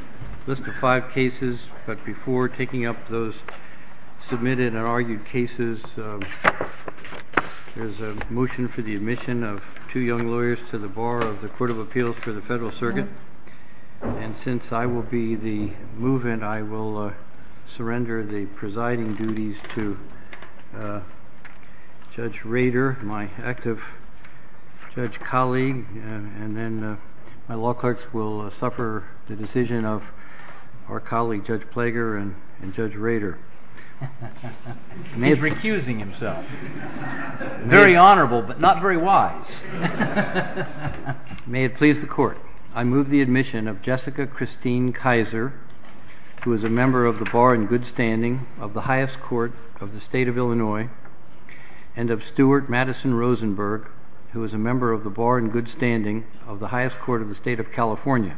A list of five cases, but before taking up those submitted and argued cases, there is a motion for the admission of two young lawyers to the bar of the Court of Appeals for the Federal Circuit. And since I will be the movement, I will surrender the presiding duties to Judge Rader, my active judge colleague, and then my law clerks will suffer the decision of our colleague Judge Plager and Judge Rader. He's recusing himself. Very honorable, but not very wise. May it please the Court. I move the admission of Jessica Christine Kaiser, who is a member of the Bar in Good Standing of the highest court of the state of Illinois, and of Stuart Madison Rosenberg, who is a member of the Bar in Good Standing of the highest court of the state of California.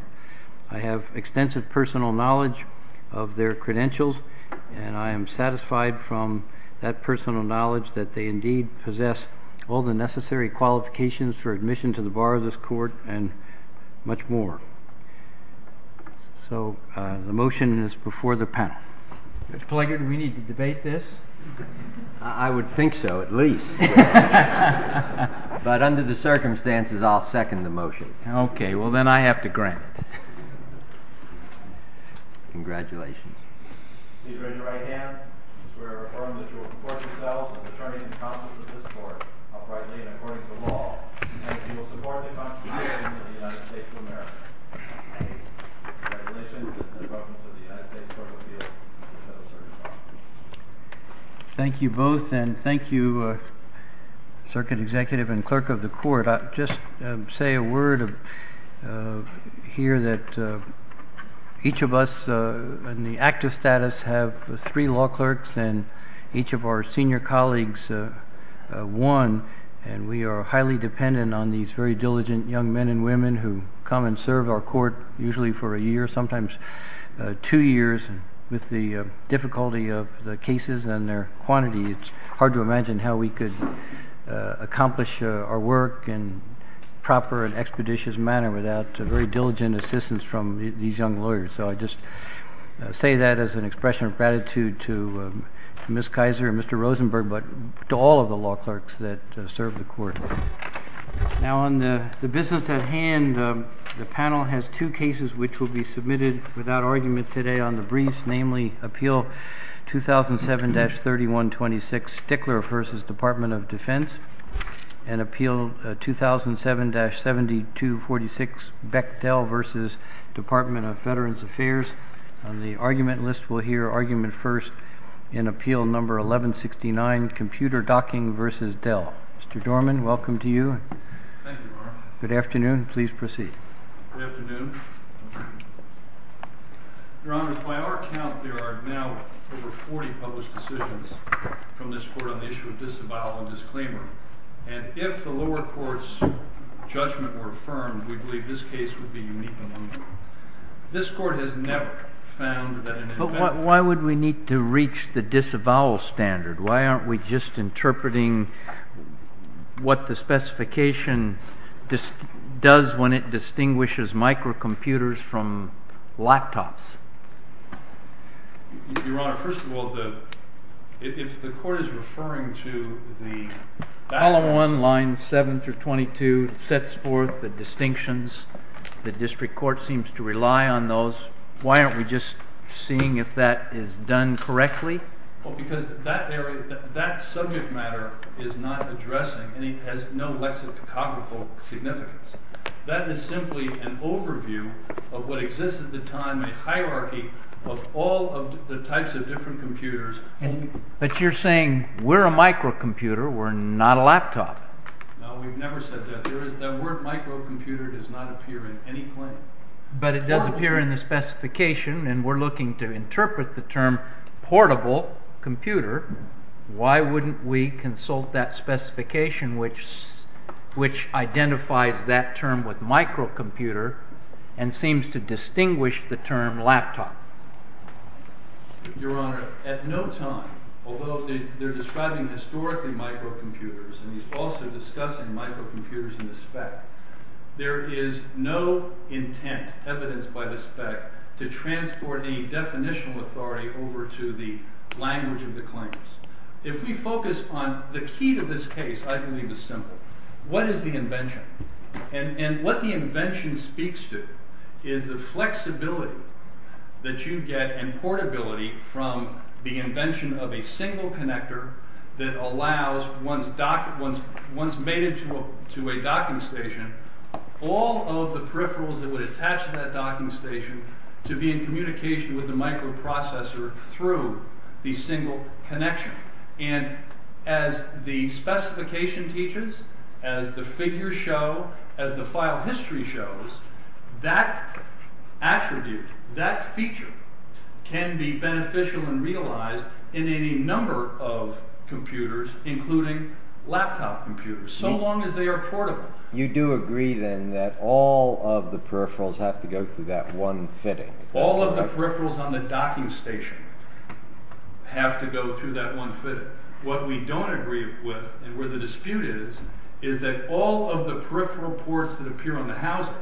I have extensive personal knowledge of their credentials, and I am satisfied from that personal knowledge that they indeed possess all the necessary qualifications for admission to the bar of this court and much more. So the motion is before the panel. Judge Plager, do we need to debate this? I would think so, at least. But under the circumstances, I'll second the motion. OK, well, then I have to grant it. Congratulations. Please raise your right hand. I swear or affirm that you will report yourselves as attorneys and counsels of this court, uprightly and according to the law, and that you will support the Constitution of the United States of America. Congratulations, and welcome to the United States Court of Appeals. Thank you both, and thank you, Circuit Executive and Clerk of the Court. I'll just say a word here that each of us in the active status have three law clerks, and each of our senior colleagues one. And we are highly dependent on these very diligent young men and women who come and serve our court, usually for a year, sometimes two years, with the difficulty of the cases and their quantity. It's hard to imagine how we could accomplish our work in a proper and expeditious manner without very diligent assistance from these young lawyers. So I just say that as an expression of gratitude to Ms. Kaiser and Mr. Rosenberg, but to all of the law clerks that serve the court. Now on the business at hand, the panel has two cases which will be submitted without argument today on the briefs, namely, Appeal 2007-3126, Stickler v. Department of Defense, and Appeal 2007-7246, Bechtel v. Department of Veterans Affairs. On the argument list, we'll hear argument first in Appeal No. 1169, Computer Docking v. Dell. Mr. Dorman, welcome to you. Thank you, Your Honor. Good afternoon. Please proceed. Good afternoon. Your Honor, by our count, there are now over 40 published decisions from this court on the issue of disavowal and disclaimer. And if the lower court's judgment were affirmed, we believe this case would be unique among them. This court has never found that an invention- But why would we need to reach the disavowal standard? Why aren't we just interpreting what the specification does when it distinguishes microcomputers from laptops? Your Honor, first of all, if the court is referring to the- File 1, lines 7 through 22 sets forth the distinctions. The district court seems to rely on those. Why aren't we just seeing if that is done correctly? Because that subject matter is not addressing, and it has no lexicographical significance. That is simply an overview of what exists at the time, a hierarchy of all of the types of different computers. But you're saying we're a microcomputer, we're not a laptop. No, we've never said that. The word microcomputer does not appear in any claim. But it does appear in the specification, and we're looking to interpret the term portable computer. Why wouldn't we consult that specification which identifies that term with microcomputer and seems to distinguish the term laptop? Your Honor, at no time, although they're describing historically microcomputers, and he's also discussing microcomputers in the spec, there is no intent evidenced by the spec to transport any definitional authority over to the language of the claims. If we focus on the key to this case, I believe it's simple. What is the invention? And what the invention speaks to is the flexibility that you get in portability from the invention of a single connector that allows, once made into a docking station, all of the peripherals that would attach to that docking station to be in communication with the microprocessor through the single connection. And as the specification teaches, as the figures show, as the file history shows, that attribute, that feature, can be beneficial and realized in any number of computers, including laptop computers, so long as they are portable. You do agree then that all of the peripherals have to go through that one fitting? All of the peripherals on the docking station have to go through that one fitting. What we don't agree with, and where the dispute is, is that all of the peripheral ports that appear on the housing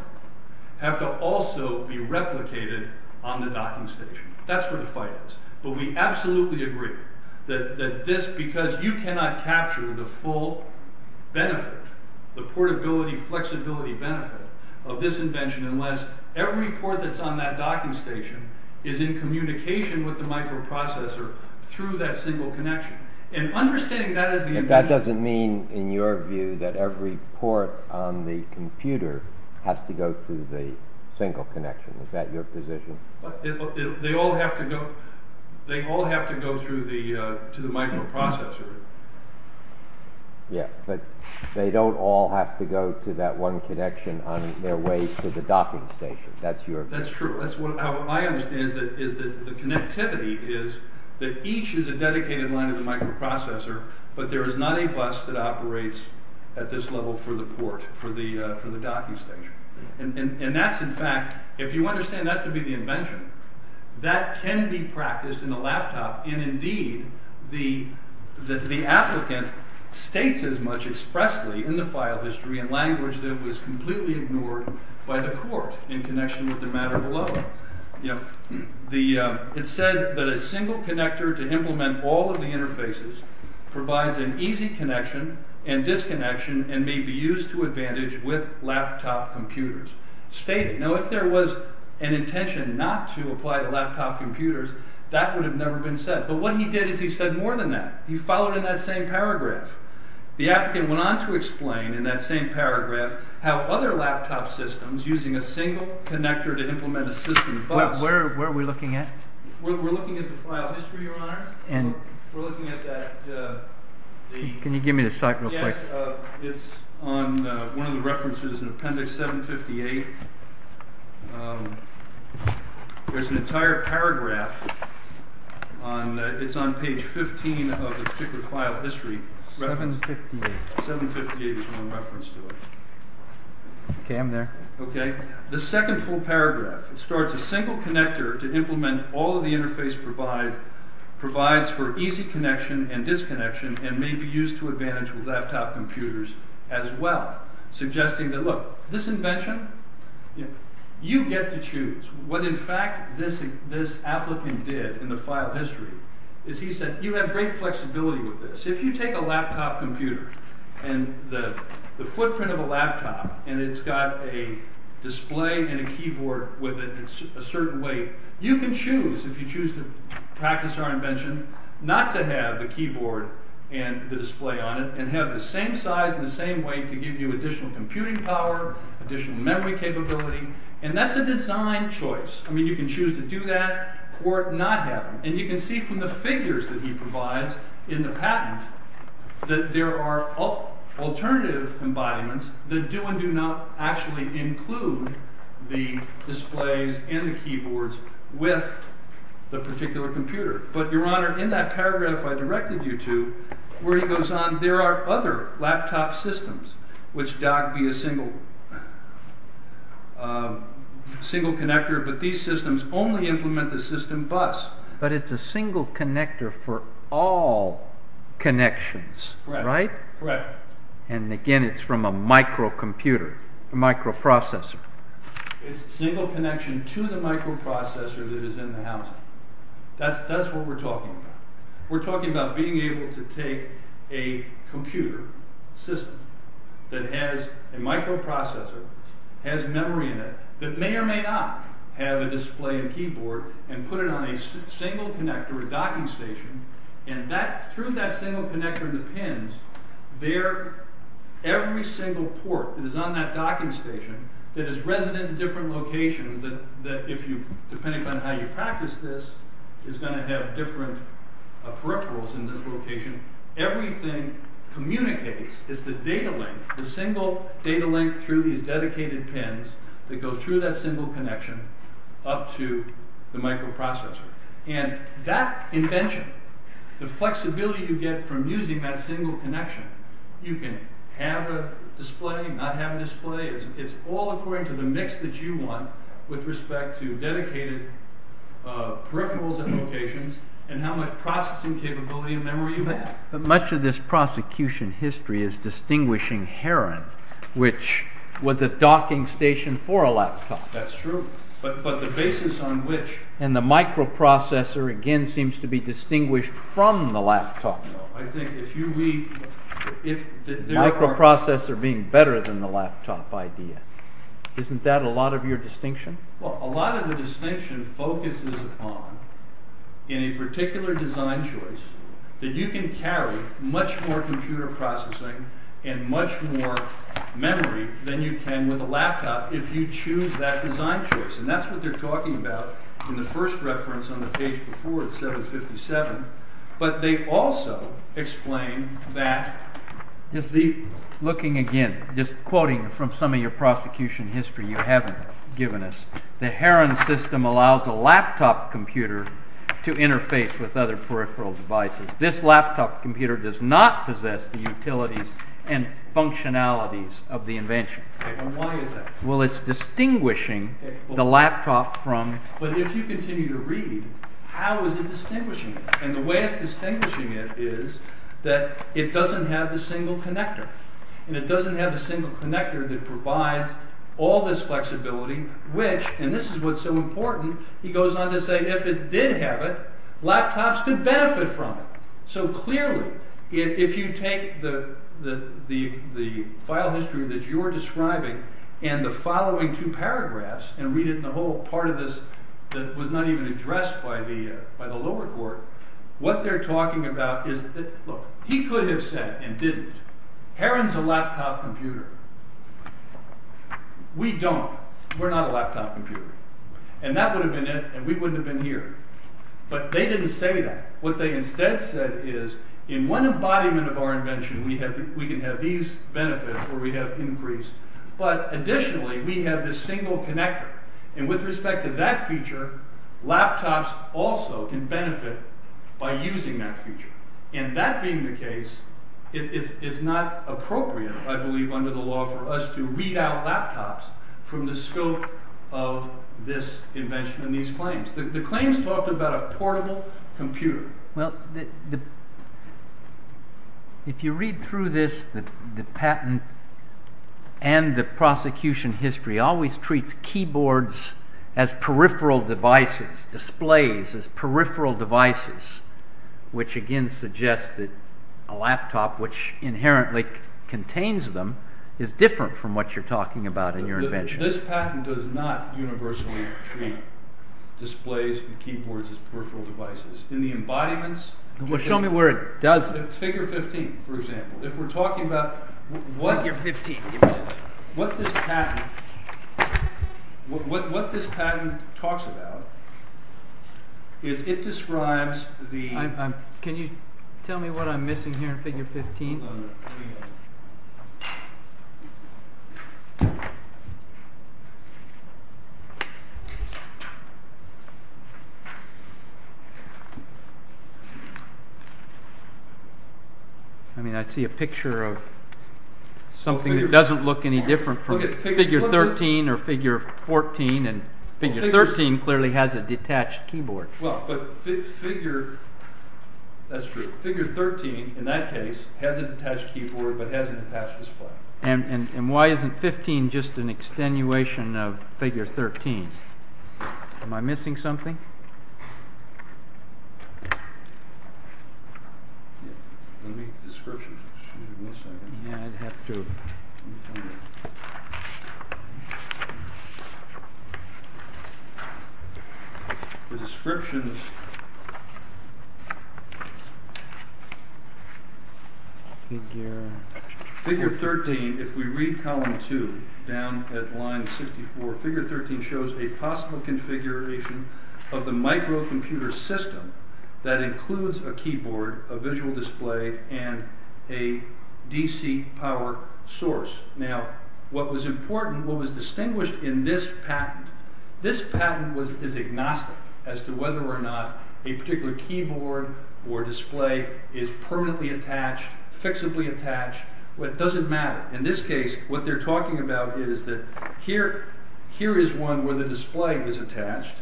have to also be replicated on the docking station. That's where the fight is. But we absolutely agree that this, because you cannot capture the full benefit, the portability, flexibility benefit of this invention unless every port that's on that docking station is in communication with the microprocessor through that single connection. And understanding that is the invention. But that doesn't mean, in your view, that every port on the computer has to go through the single connection. Is that your position? They all have to go through the microprocessor. Yeah, but they don't all have to go through that one connection on their way to the docking station. That's true. That's how I understand it, is that the connectivity is that each is a dedicated line of the microprocessor, but there is not a bus that operates at this level for the port, for the docking station. And that's in fact, if you understand that to be the invention, that can be practiced in a laptop, and indeed the applicant states as much expressly in the file history and language that was completely ignored by the court in connection with the matter below. It said that a single connector to implement all of the interfaces provides an easy connection and disconnection and may be used to advantage with laptop computers. Stated. Now if there was an intention not to apply to laptop computers, that would have never been said. But what he did is he said more than that. He followed in that same paragraph. The applicant went on to explain in that same paragraph how other laptop systems using a single connector to implement a system bus. Where are we looking at? We're looking at the file history, Your Honor. Can you give me the site real quick? Yes, it's on one of the references in appendix 758. There's an entire paragraph. It's on page 15 of the particular file history. 758. 758 is one reference to it. Okay, I'm there. Okay. The second full paragraph. It starts, a single connector to implement all of the interface provides for easy connection and disconnection and may be used to advantage with laptop computers as well. Suggesting that look, this invention, you get to choose. What in fact this applicant did in the file history is he said you have great flexibility with this. If you take a laptop computer and the footprint of a laptop and it's got a display and a keyboard with a certain weight, you can choose if you choose to practice our invention not to have the keyboard and the display on it and have the same size and the same weight to give you additional computing power, additional memory capability, and that's a design choice. I mean you can choose to do that or not have them. And you can see from the figures that he provides in the patent that there are alternative embodiments that do and do not actually include the displays and the keyboards with the particular computer. But your honor, in that paragraph I directed you to, where he goes on, there are other laptop systems which dock via single connector, but these systems only implement the system bus. But it's a single connector for all connections, right? Correct. And again, it's from a microcomputer, a microprocessor. It's a single connection to the microprocessor that is in the house. That's what we're talking about. We're talking about being able to take a computer system that has a microprocessor, has memory in it, that may or may not have a display and keyboard and put it on a single connector, a docking station, and through that single connector and the pins, every single port that is on that docking station that is resident in different locations, depending on how you practice this, is going to have different peripherals in this location. Everything communicates. It's the data link, the single data link through these dedicated pins that go through that single connection up to the microprocessor. And that invention, the flexibility you get from using that single connection, you can have a display, not have a display. It's all according to the mix that you want with respect to dedicated peripherals and locations and how much processing capability and memory you have. But much of this prosecution history is distinguishing Heron, which was a docking station for a laptop. That's true. But the basis on which… And the microprocessor, again, seems to be distinguished from the laptop. I think if you read… Microprocessor being better than the laptop idea. Isn't that a lot of your distinction? Well, a lot of the distinction focuses upon, in a particular design choice, that you can carry much more computer processing and much more memory than you can with a laptop if you choose that design choice. And that's what they're talking about in the first reference on the page before at 757. But they also explain that… Looking again, just quoting from some of your prosecution history you haven't given us, the Heron system allows a laptop computer to interface with other peripheral devices. This laptop computer does not possess the utilities and functionalities of the invention. Why is that? Well, it's distinguishing the laptop from… But if you continue to read, how is it distinguishing? And the way it's distinguishing it is that it doesn't have the single connector. And it doesn't have the single connector that provides all this flexibility, which… And this is what's so important. He goes on to say, if it did have it, laptops could benefit from it. So clearly, if you take the file history that you're describing and the following two paragraphs and read it in the whole part of this that was not even addressed by the lower court, what they're talking about is… Look, he could have said and didn't, Heron's a laptop computer. We don't. We're not a laptop computer. And that would have been it and we wouldn't have been here. But they didn't say that. What they instead said is, in one embodiment of our invention we can have these benefits or we have increase. But additionally, we have this single connector. And with respect to that feature, laptops also can benefit by using that feature. And that being the case, it's not appropriate, I believe, under the law for us to read out laptops from the scope of this invention and these claims. The claims talk about a portable computer. Well, if you read through this, the patent and the prosecution history always treats keyboards as peripheral devices, displays as peripheral devices, which again suggests that a laptop which inherently contains them is different from what you're talking about in your invention. This patent does not universally treat displays and keyboards as peripheral devices. In the embodiments... Well, show me where it doesn't. Figure 15, for example. If we're talking about... Figure 15. What this patent talks about is it describes the... Can you tell me what I'm missing here in Figure 15? Hold on a minute. I mean, I see a picture of something that doesn't look any different from Figure 13 or Figure 14. And Figure 13 clearly has a detached keyboard. Well, but Figure... That's true. Figure 13, in that case, has a detached keyboard but has an attached display. And why isn't 15 just an extenuation of Figure 13? Am I missing something? Yeah. Let me... Descriptions. Excuse me one second. Yeah, I'd have to... The descriptions... Figure... Figure 13, if we read column 2, down at line 64, Figure 13 shows a possible configuration of the microcomputer system that includes a keyboard, a visual display, and a DC power source. Now, what was important, what was distinguished in this patent, this patent is agnostic as to whether or not a particular keyboard or display is permanently attached, fixably attached. It doesn't matter. In this case, what they're talking about is that here is one where the display is attached.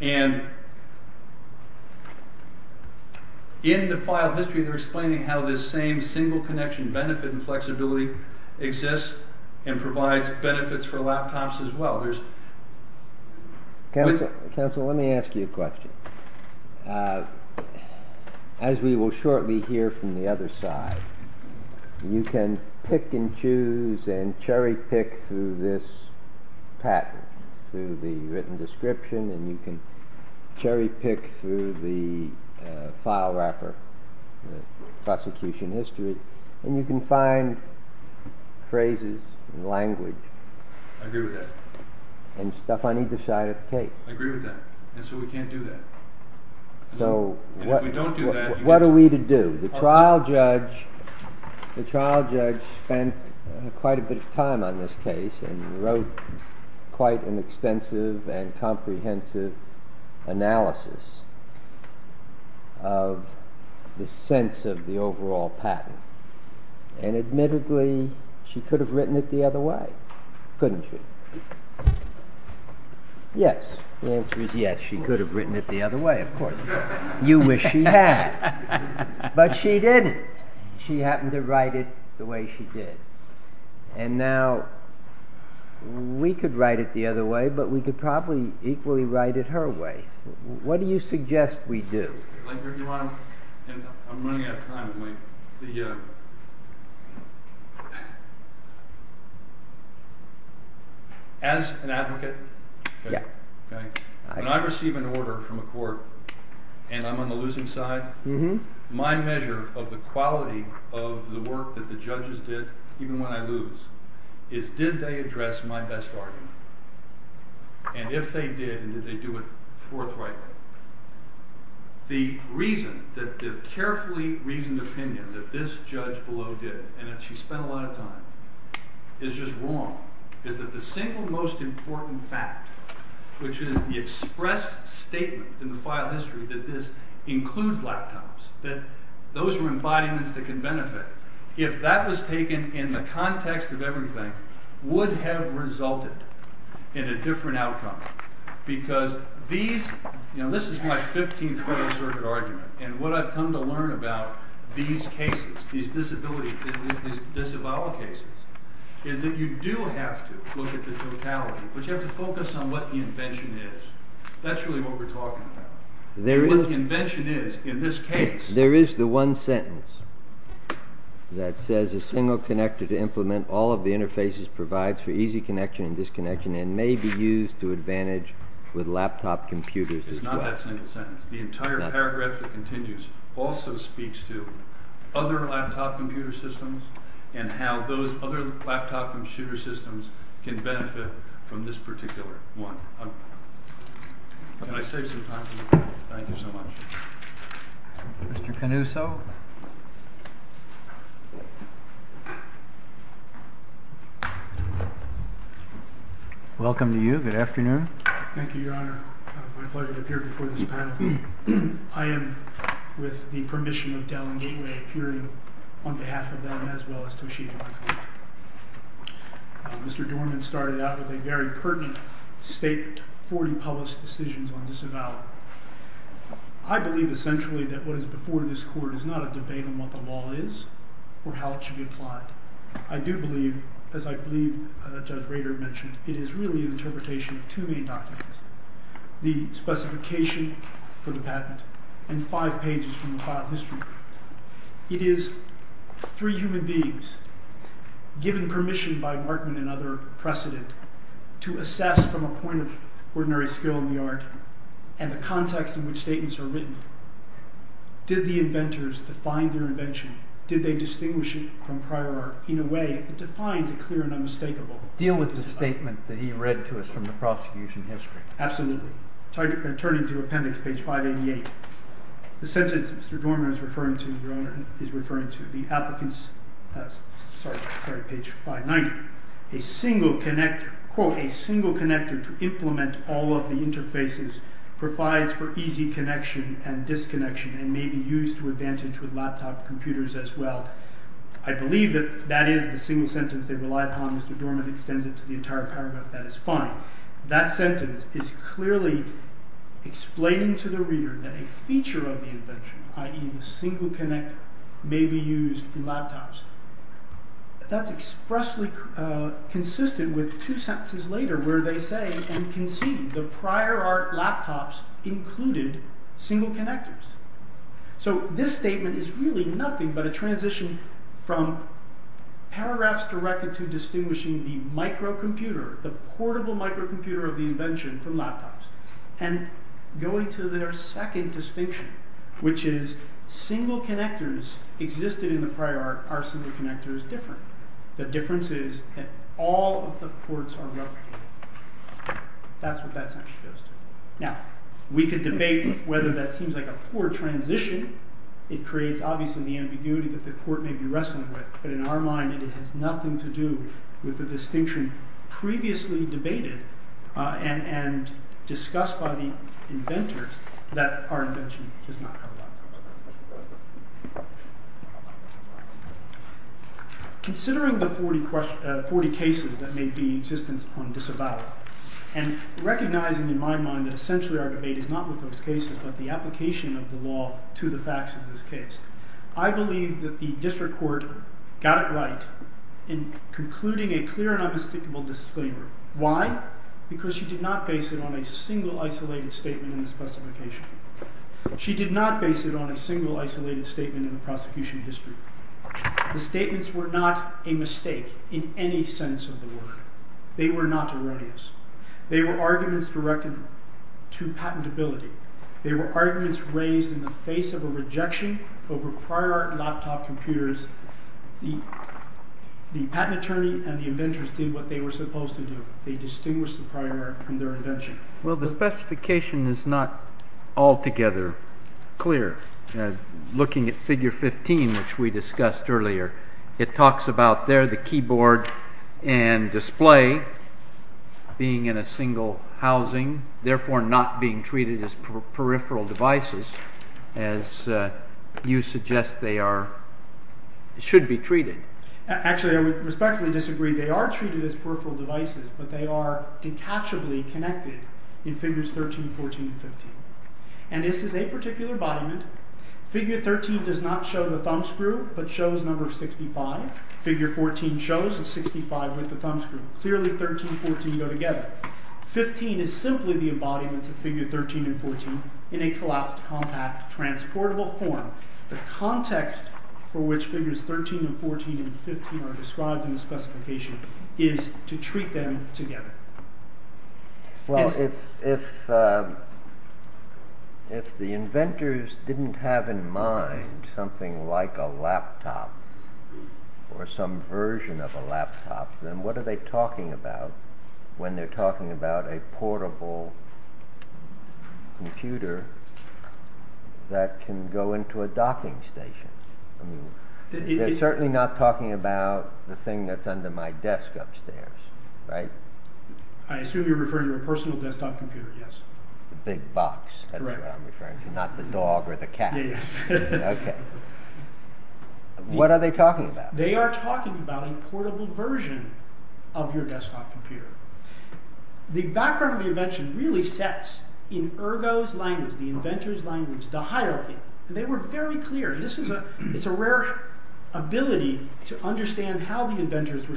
And... In the file history, they're explaining how this same single connection benefit and flexibility exists and provides benefits for laptops as well. Counsel, let me ask you a question. As we will shortly hear from the other side, you can pick and choose and cherry-pick through this patent, through the written description, and you can cherry-pick through the file wrapper, the prosecution history, and you can find phrases and language. I agree with that. And stuff on either side of the tape. I agree with that. And so we can't do that. So, what are we to do? The trial judge spent quite a bit of time on this case and wrote quite an extensive and comprehensive analysis of the sense of the overall patent. And admittedly, she could have written it the other way, couldn't she? Yes. The answer is yes. She could have written it the other way, of course. You wish she had. But she didn't. She happened to write it the way she did. And now, we could write it the other way, but we could probably equally write it her way. What do you suggest we do? I'm running out of time. As an advocate, when I receive an order from a court and I'm on the losing side, my measure of the quality of the work that the judges did, even when I lose, is did they address my best argument? And if they did, did they do it forthrightly? The carefully reasoned opinion that this judge below did, and that she spent a lot of time, is just wrong. It's that the single most important fact, which is the express statement in the file history that this includes laptops, that those are embodiments that can benefit, if that was taken in the context of everything, would have resulted in a different outcome. Because these, you know, this is my 15th Federal Circuit argument, and what I've come to learn about these cases, these disability, these disavowal cases, is that you do have to look at the totality, but you have to focus on what the invention is. That's really what we're talking about. What the invention is, in this case... There is the one sentence that says, a single connector to implement all of the interfaces provides for easy connection and disconnection and may be used to advantage with laptop computers. It's not that single sentence. The entire paragraph that continues also speaks to other laptop computer systems and how those other laptop computer systems can benefit from this particular one. Can I save some time for the panel? Thank you so much. Mr. Canuso? Welcome to you. Good afternoon. Thank you, Your Honor. It's my pleasure to appear before this panel. I am, with the permission of Dallin Gateway, appearing on behalf of them as well as Toshiba. Mr. Dorman started out with a very pertinent statement for the public's decisions on disavowal. I believe essentially that what is before this court is not a debate on what the law is or how it should be applied. I do believe, as I believe Judge Rader mentioned, it is really an interpretation of two main documents. The specification for the patent and five pages from the file of history. It is three human beings given permission by Markman and other precedent to assess from a point of ordinary skill in the art and the context in which statements are written. Did the inventors define their invention? Did they distinguish it from prior art in a way that defines a clear and unmistakable... Deal with the statement that he read to us from the prosecution history. Absolutely. Turning to appendix page 588. The sentence Mr. Dorman is referring to, Your Honor, is referring to the applicant's... Sorry, page 590. A single connector, quote, a single connector to implement all of the interfaces provides for easy connection and disconnection and may be used to advantage with laptop computers as well. I believe that that is the single sentence they rely upon as Mr. Dorman extends it to the entire paragraph. That is fine. That sentence is clearly explaining to the reader that a feature of the invention, i.e. the single connector, may be used in laptops. That's expressly consistent with two sentences later where they say and concede the prior art laptops included single connectors. So this statement is really nothing but a transition from paragraphs directed to distinguishing the microcomputer, the portable microcomputer of the invention from laptops and going to their second distinction which is single connectors existed in the prior art are single connectors different. The difference is that all of the ports are replicated. That's what that sentence goes to. Now, we could debate whether that seems like a poor transition. It creates, obviously, the ambiguity that the court may be wrestling with. But in our mind, it has nothing to do with the distinction previously debated and discussed by the inventors that our invention is not a laptop. Considering the 40 cases that may be in existence on disavowal and recognizing, in my mind, that essentially our debate is not with those cases but the application of the law to the facts of this case, I believe that the district court got it right in concluding a clear and unmistakable disclaimer. Why? Because she did not base it on a single isolated statement in the specification. She did not base it on a single isolated statement in the prosecution history. The statements were not a mistake in any sense of the word. They were not erroneous. They were arguments directed to patentability. They were arguments raised in the face of a rejection over prior laptop computers. The patent attorney and the inventors did what they were supposed to do. They distinguished the prior from their invention. Well, the specification is not altogether clear. Looking at figure 15, which we discussed earlier, it talks about there the keyboard and display being in a single housing, therefore not being treated as peripheral devices, as you suggest they should be treated. Actually, I would respectfully disagree. They are treated as peripheral devices, but they are detachably connected in figures 13, 14, and 15. And this is a particular embodiment. Figure 13 does not show the thumbscrew, but shows number 65. Figure 14 shows the 65 with the thumbscrew. Clearly, 13 and 14 go together. 15 is simply the embodiment of figure 13 and 14 in a collapsed, compact, transportable form. The context for which figures 13 and 14 and 15 are described in the specification is to treat them together. Well, if the inventors didn't have in mind something like a laptop or some version of a laptop, then what are they talking about when they're talking about a portable computer that can go into a docking station? They're certainly not talking about the thing that's under my desk upstairs, right? I assume you're referring to a personal desktop computer, yes. The big box, that's what I'm referring to, not the dog or the cat. Yes. What are they talking about? They are talking about a portable version of your desktop computer. The background of the invention really sets, in Ergo's language, the inventor's language, the hierarchy. They were very clear. It's a rare ability to understand how the inventors were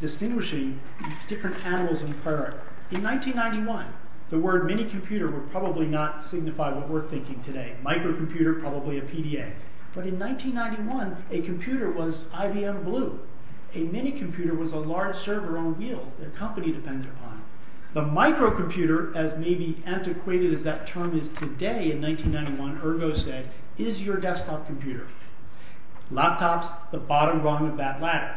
distinguishing different animals and birds. In 1991, the word minicomputer would probably not signify what we're thinking today. Microcomputer, probably a PDA. But in 1991, a computer was IBM Blue. A minicomputer was a large server on wheels that a company depended upon. The microcomputer, as maybe antiquated as that term is today, in 1991, Ergo said, is your desktop computer. Laptops, the bottom rung of that ladder.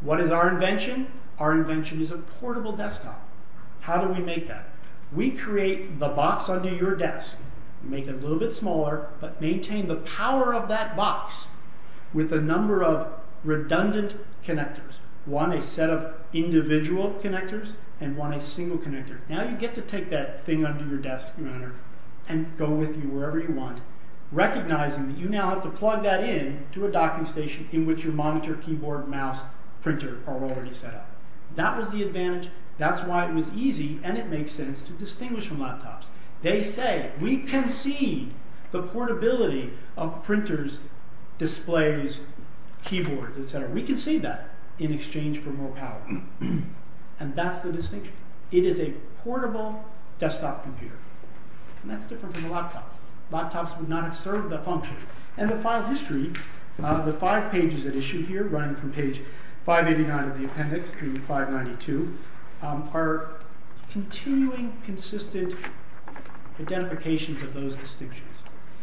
What is our invention? Our invention is a portable desktop. How do we make that? We create the box under your desk, make it a little bit smaller, but maintain the power of that box with a number of redundant connectors. One, a set of individual connectors, and one, a single connector. Now you get to take that thing under your desk, and go with you wherever you want, recognizing that you now have to plug that in to a docking station in which your monitor, keyboard, mouse, printer are already set up. That was the advantage. That's why it was easy, and it makes sense, to distinguish from laptops. They say, we can see the portability of printers, displays, keyboards, etc. We can see that in exchange for more power. And that's the distinction. It is a portable desktop computer. And that's different from a laptop. Laptops would not have served that function. And the file history, the five pages at issue here, running from page 589 of the appendix to 592, are continuing, consistent identifications of those distinctions.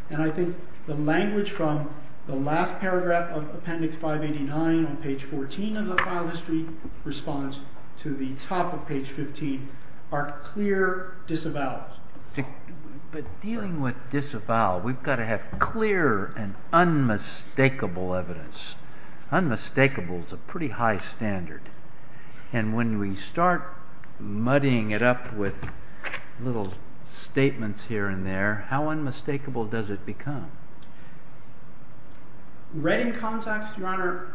And I think the language from the last paragraph of appendix 589 on page 14 of the file history responds to the top of page 15, are clear disavowals. But dealing with disavowals, we've got to have clear and unmistakable evidence. Unmistakable is a pretty high standard. And when we start muddying it up with little statements here and there, how unmistakable does it become? Right in context, Your Honor,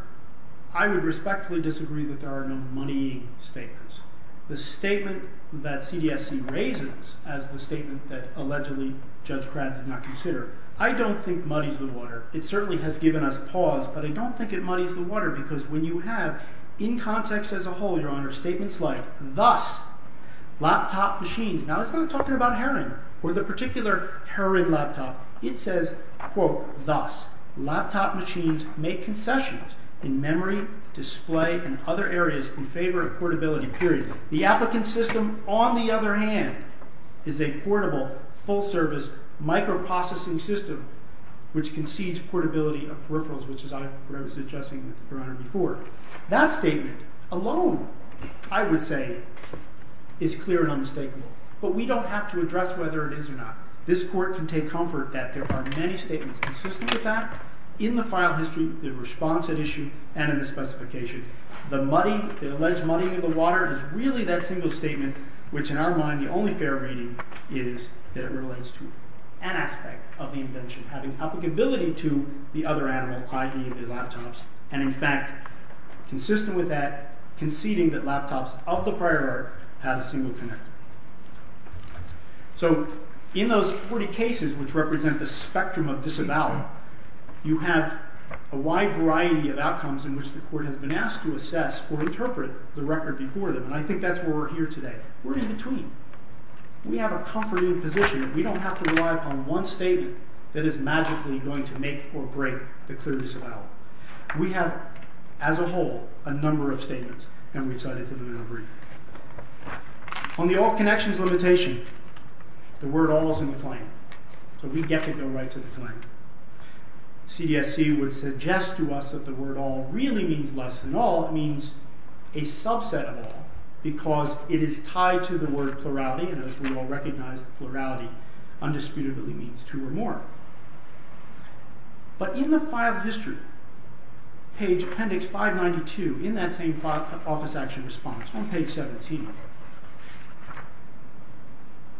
I would respectfully disagree that there are no muddying statements. The statement that CDSC raises as the statement that, allegedly, Judge Crabb did not consider, I don't think muddies the water. It certainly has given us pause, but I don't think it muddies the water, because when you have, in context as a whole, Your Honor, statements like, thus, laptop machines, now it's not talking about Heron, or the particular Heron laptop. It says, quote, thus, laptop machines make concessions in memory, display, and other areas in favor of portability, period. The applicant system, on the other hand, is a portable, full-service, microprocessing system, which concedes portability of peripherals, which is what I was suggesting, Your Honor, before. That statement, alone, I would say, is clear and unmistakable. But we don't have to address whether it is or not. This Court can take comfort that there are many statements consistent with that in the file history, the response at issue, and in the specification. The muddying, the alleged muddying of the water is really that single statement, which, in our mind, the only fair reading is that it relates to an aspect of the invention, having applicability to the other animal, i.e., the laptops. And, in fact, consistent with that, conceding that laptops of the prior era have a single connector. So, in those 40 cases, which represent the spectrum of disavowal, you have a wide variety of outcomes in which the Court has been asked to assess or interpret the record before them. And I think that's where we're here today. We're in between. We have a comforting position. We don't have to rely upon one statement that is magically going to make or break the clear disavowal. We have, as a whole, a number of statements, and we've cited them in our brief. On the all-connections limitation, the word all is in the claim, so we get to go right to the claim. CDSC would suggest to us that the word all really means less than all. It means a subset of all, because it is tied to the word plurality, and, as we all recognize, plurality undisputably means two or more. But in the file history, page appendix 592, in that same Office Action Response, on page 17,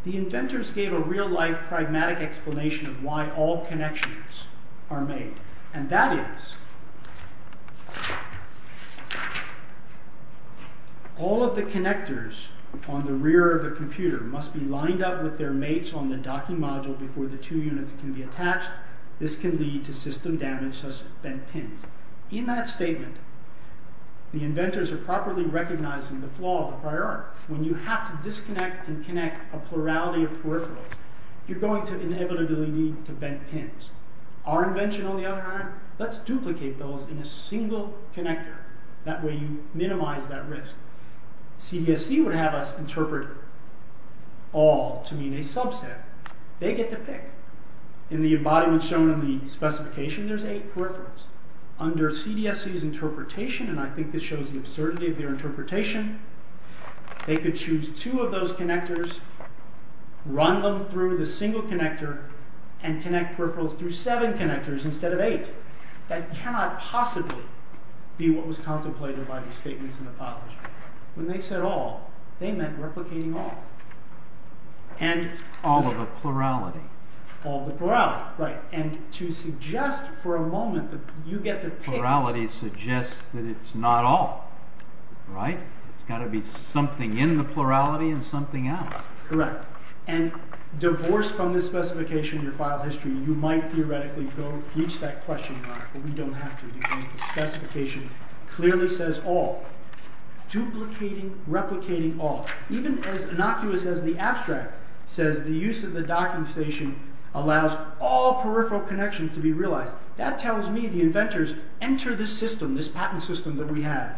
the inventors gave a real-life pragmatic explanation of why all connections are made, and that is, all of the connectors on the rear of the computer must be lined up with their mates on the docking module before the two units can be attached. This can lead to system damage such as bent pins. In that statement, the inventors are properly recognizing the flaw of the prior art. When you have to disconnect and connect a plurality of peripherals, you're going to inevitably need to bend pins. Our invention, on the other hand, let's duplicate those in a single connector. That way, you minimize that risk. CDSC would have us interpret all to mean a subset. They get to pick. In the embodiment shown in the specification, there's eight peripherals. Under CDSC's interpretation, and I think this shows the absurdity of their interpretation, they could choose two of those connectors, run them through the single connector, and connect peripherals through seven connectors instead of eight. That cannot possibly be what was contemplated by the statements in the file history. When they said all, they meant replicating all. All of the plurality. All of the plurality, right. To suggest for a moment that you get to pick... Plurality suggests that it's not all, right? There's got to be something in the plurality and something out. Correct. Divorced from this specification in your file history, you might theoretically reach that question, but we don't have to because the specification clearly says all. Duplicating, replicating all. Even as innocuous as the abstract says the use of the docking station allows all peripheral connections to be realized. That tells me the inventors enter this system, this patent system that we have.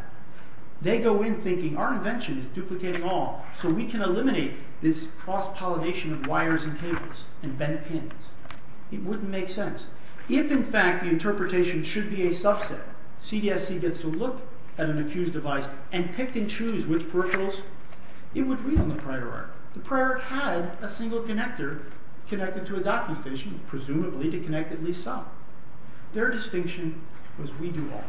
They go in thinking our invention is duplicating all so we can eliminate this cross-pollination of wires and cables and bent pins. It wouldn't make sense. If, in fact, the interpretation should be a subset, CDSC gets to look at an accused device and pick and choose which peripherals, it would read on the prior art. The prior art had a single connector connected to a docking station, presumably to connect at least some. Their distinction was we do all.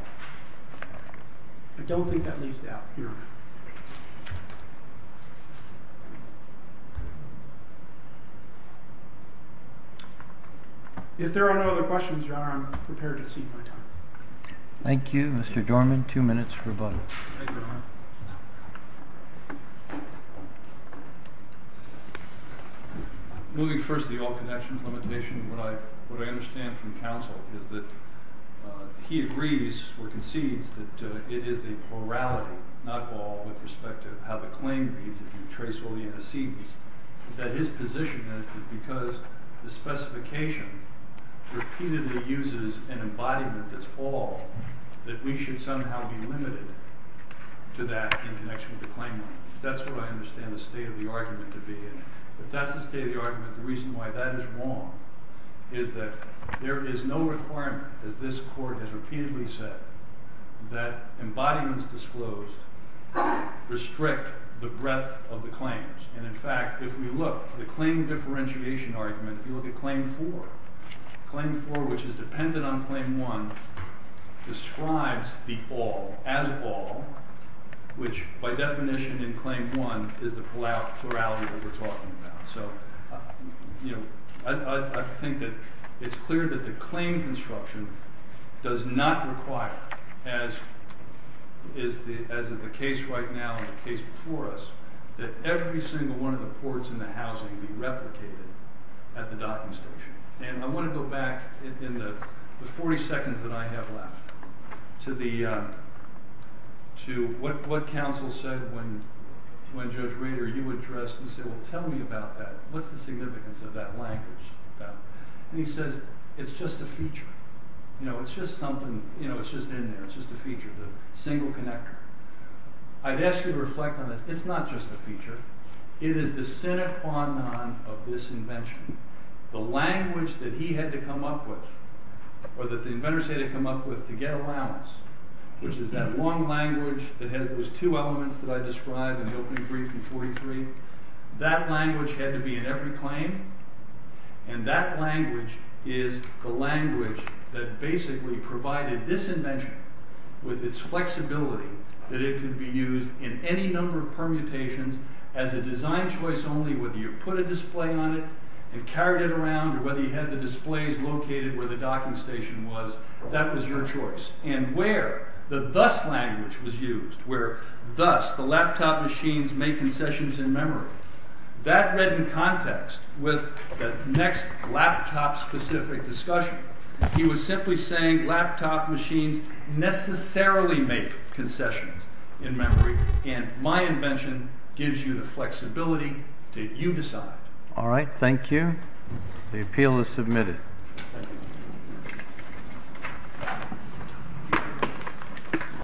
I don't think that leaves out here. If there are no other questions, Your Honor, I'm prepared to cede my time. Thank you, Mr. Dorman. Two minutes for a vote. Thank you, Your Honor. Moving first to the all connections limitation, what I understand from counsel is that he agrees or concedes that it is the plurality, not all, with respect to how the claim reads if you trace all the antecedents, that his position is that because the specification repeatedly uses an embodiment that's all, that we should somehow be limited to that in connection with the claimant. That's what I understand the state of the argument to be. If that's the state of the argument, the reason why that is wrong is that there is no requirement, as this Court has repeatedly said, that embodiments disclosed restrict the breadth of the claims. And, in fact, if we look, the claim differentiation argument, if you look at Claim 4, Claim 4, which is dependent on Claim 1, describes the all as all, which, by definition in Claim 1, is the plurality that we're talking about. So, you know, I think that it's clear that the claim construction does not require, as is the case right now and the case before us, that every single one of the ports in the housing be replicated at the docking station. And I want to go back, in the 40 seconds that I have left, to what counsel said when Judge Rader, you addressed, you said, well, tell me about that. What's the significance of that language? And he says, it's just a feature. You know, it's just something, you know, it's just in there, it's just a feature, the single connector. I'd ask you to reflect on this. It's not just a feature. It is the sine qua non of this invention. The language that he had to come up with, or that the inventors had to come up with to get allowance, which is that long language that has those two elements that I described in the opening brief in 43, that language had to be in every claim, and that language is the language that basically provided this invention with its flexibility that it could be used in any number of permutations as a design choice only, whether you put a display on it and carried it around, or whether you had the displays located where the docking station was, that was your choice. And where the thus language was used, where thus the laptop machines make concessions in memory, that read in context with the next laptop-specific discussion. He was simply saying that the laptop machines necessarily make concessions in memory, and my invention gives you the flexibility that you decide. Alright, thank you. The appeal is submitted.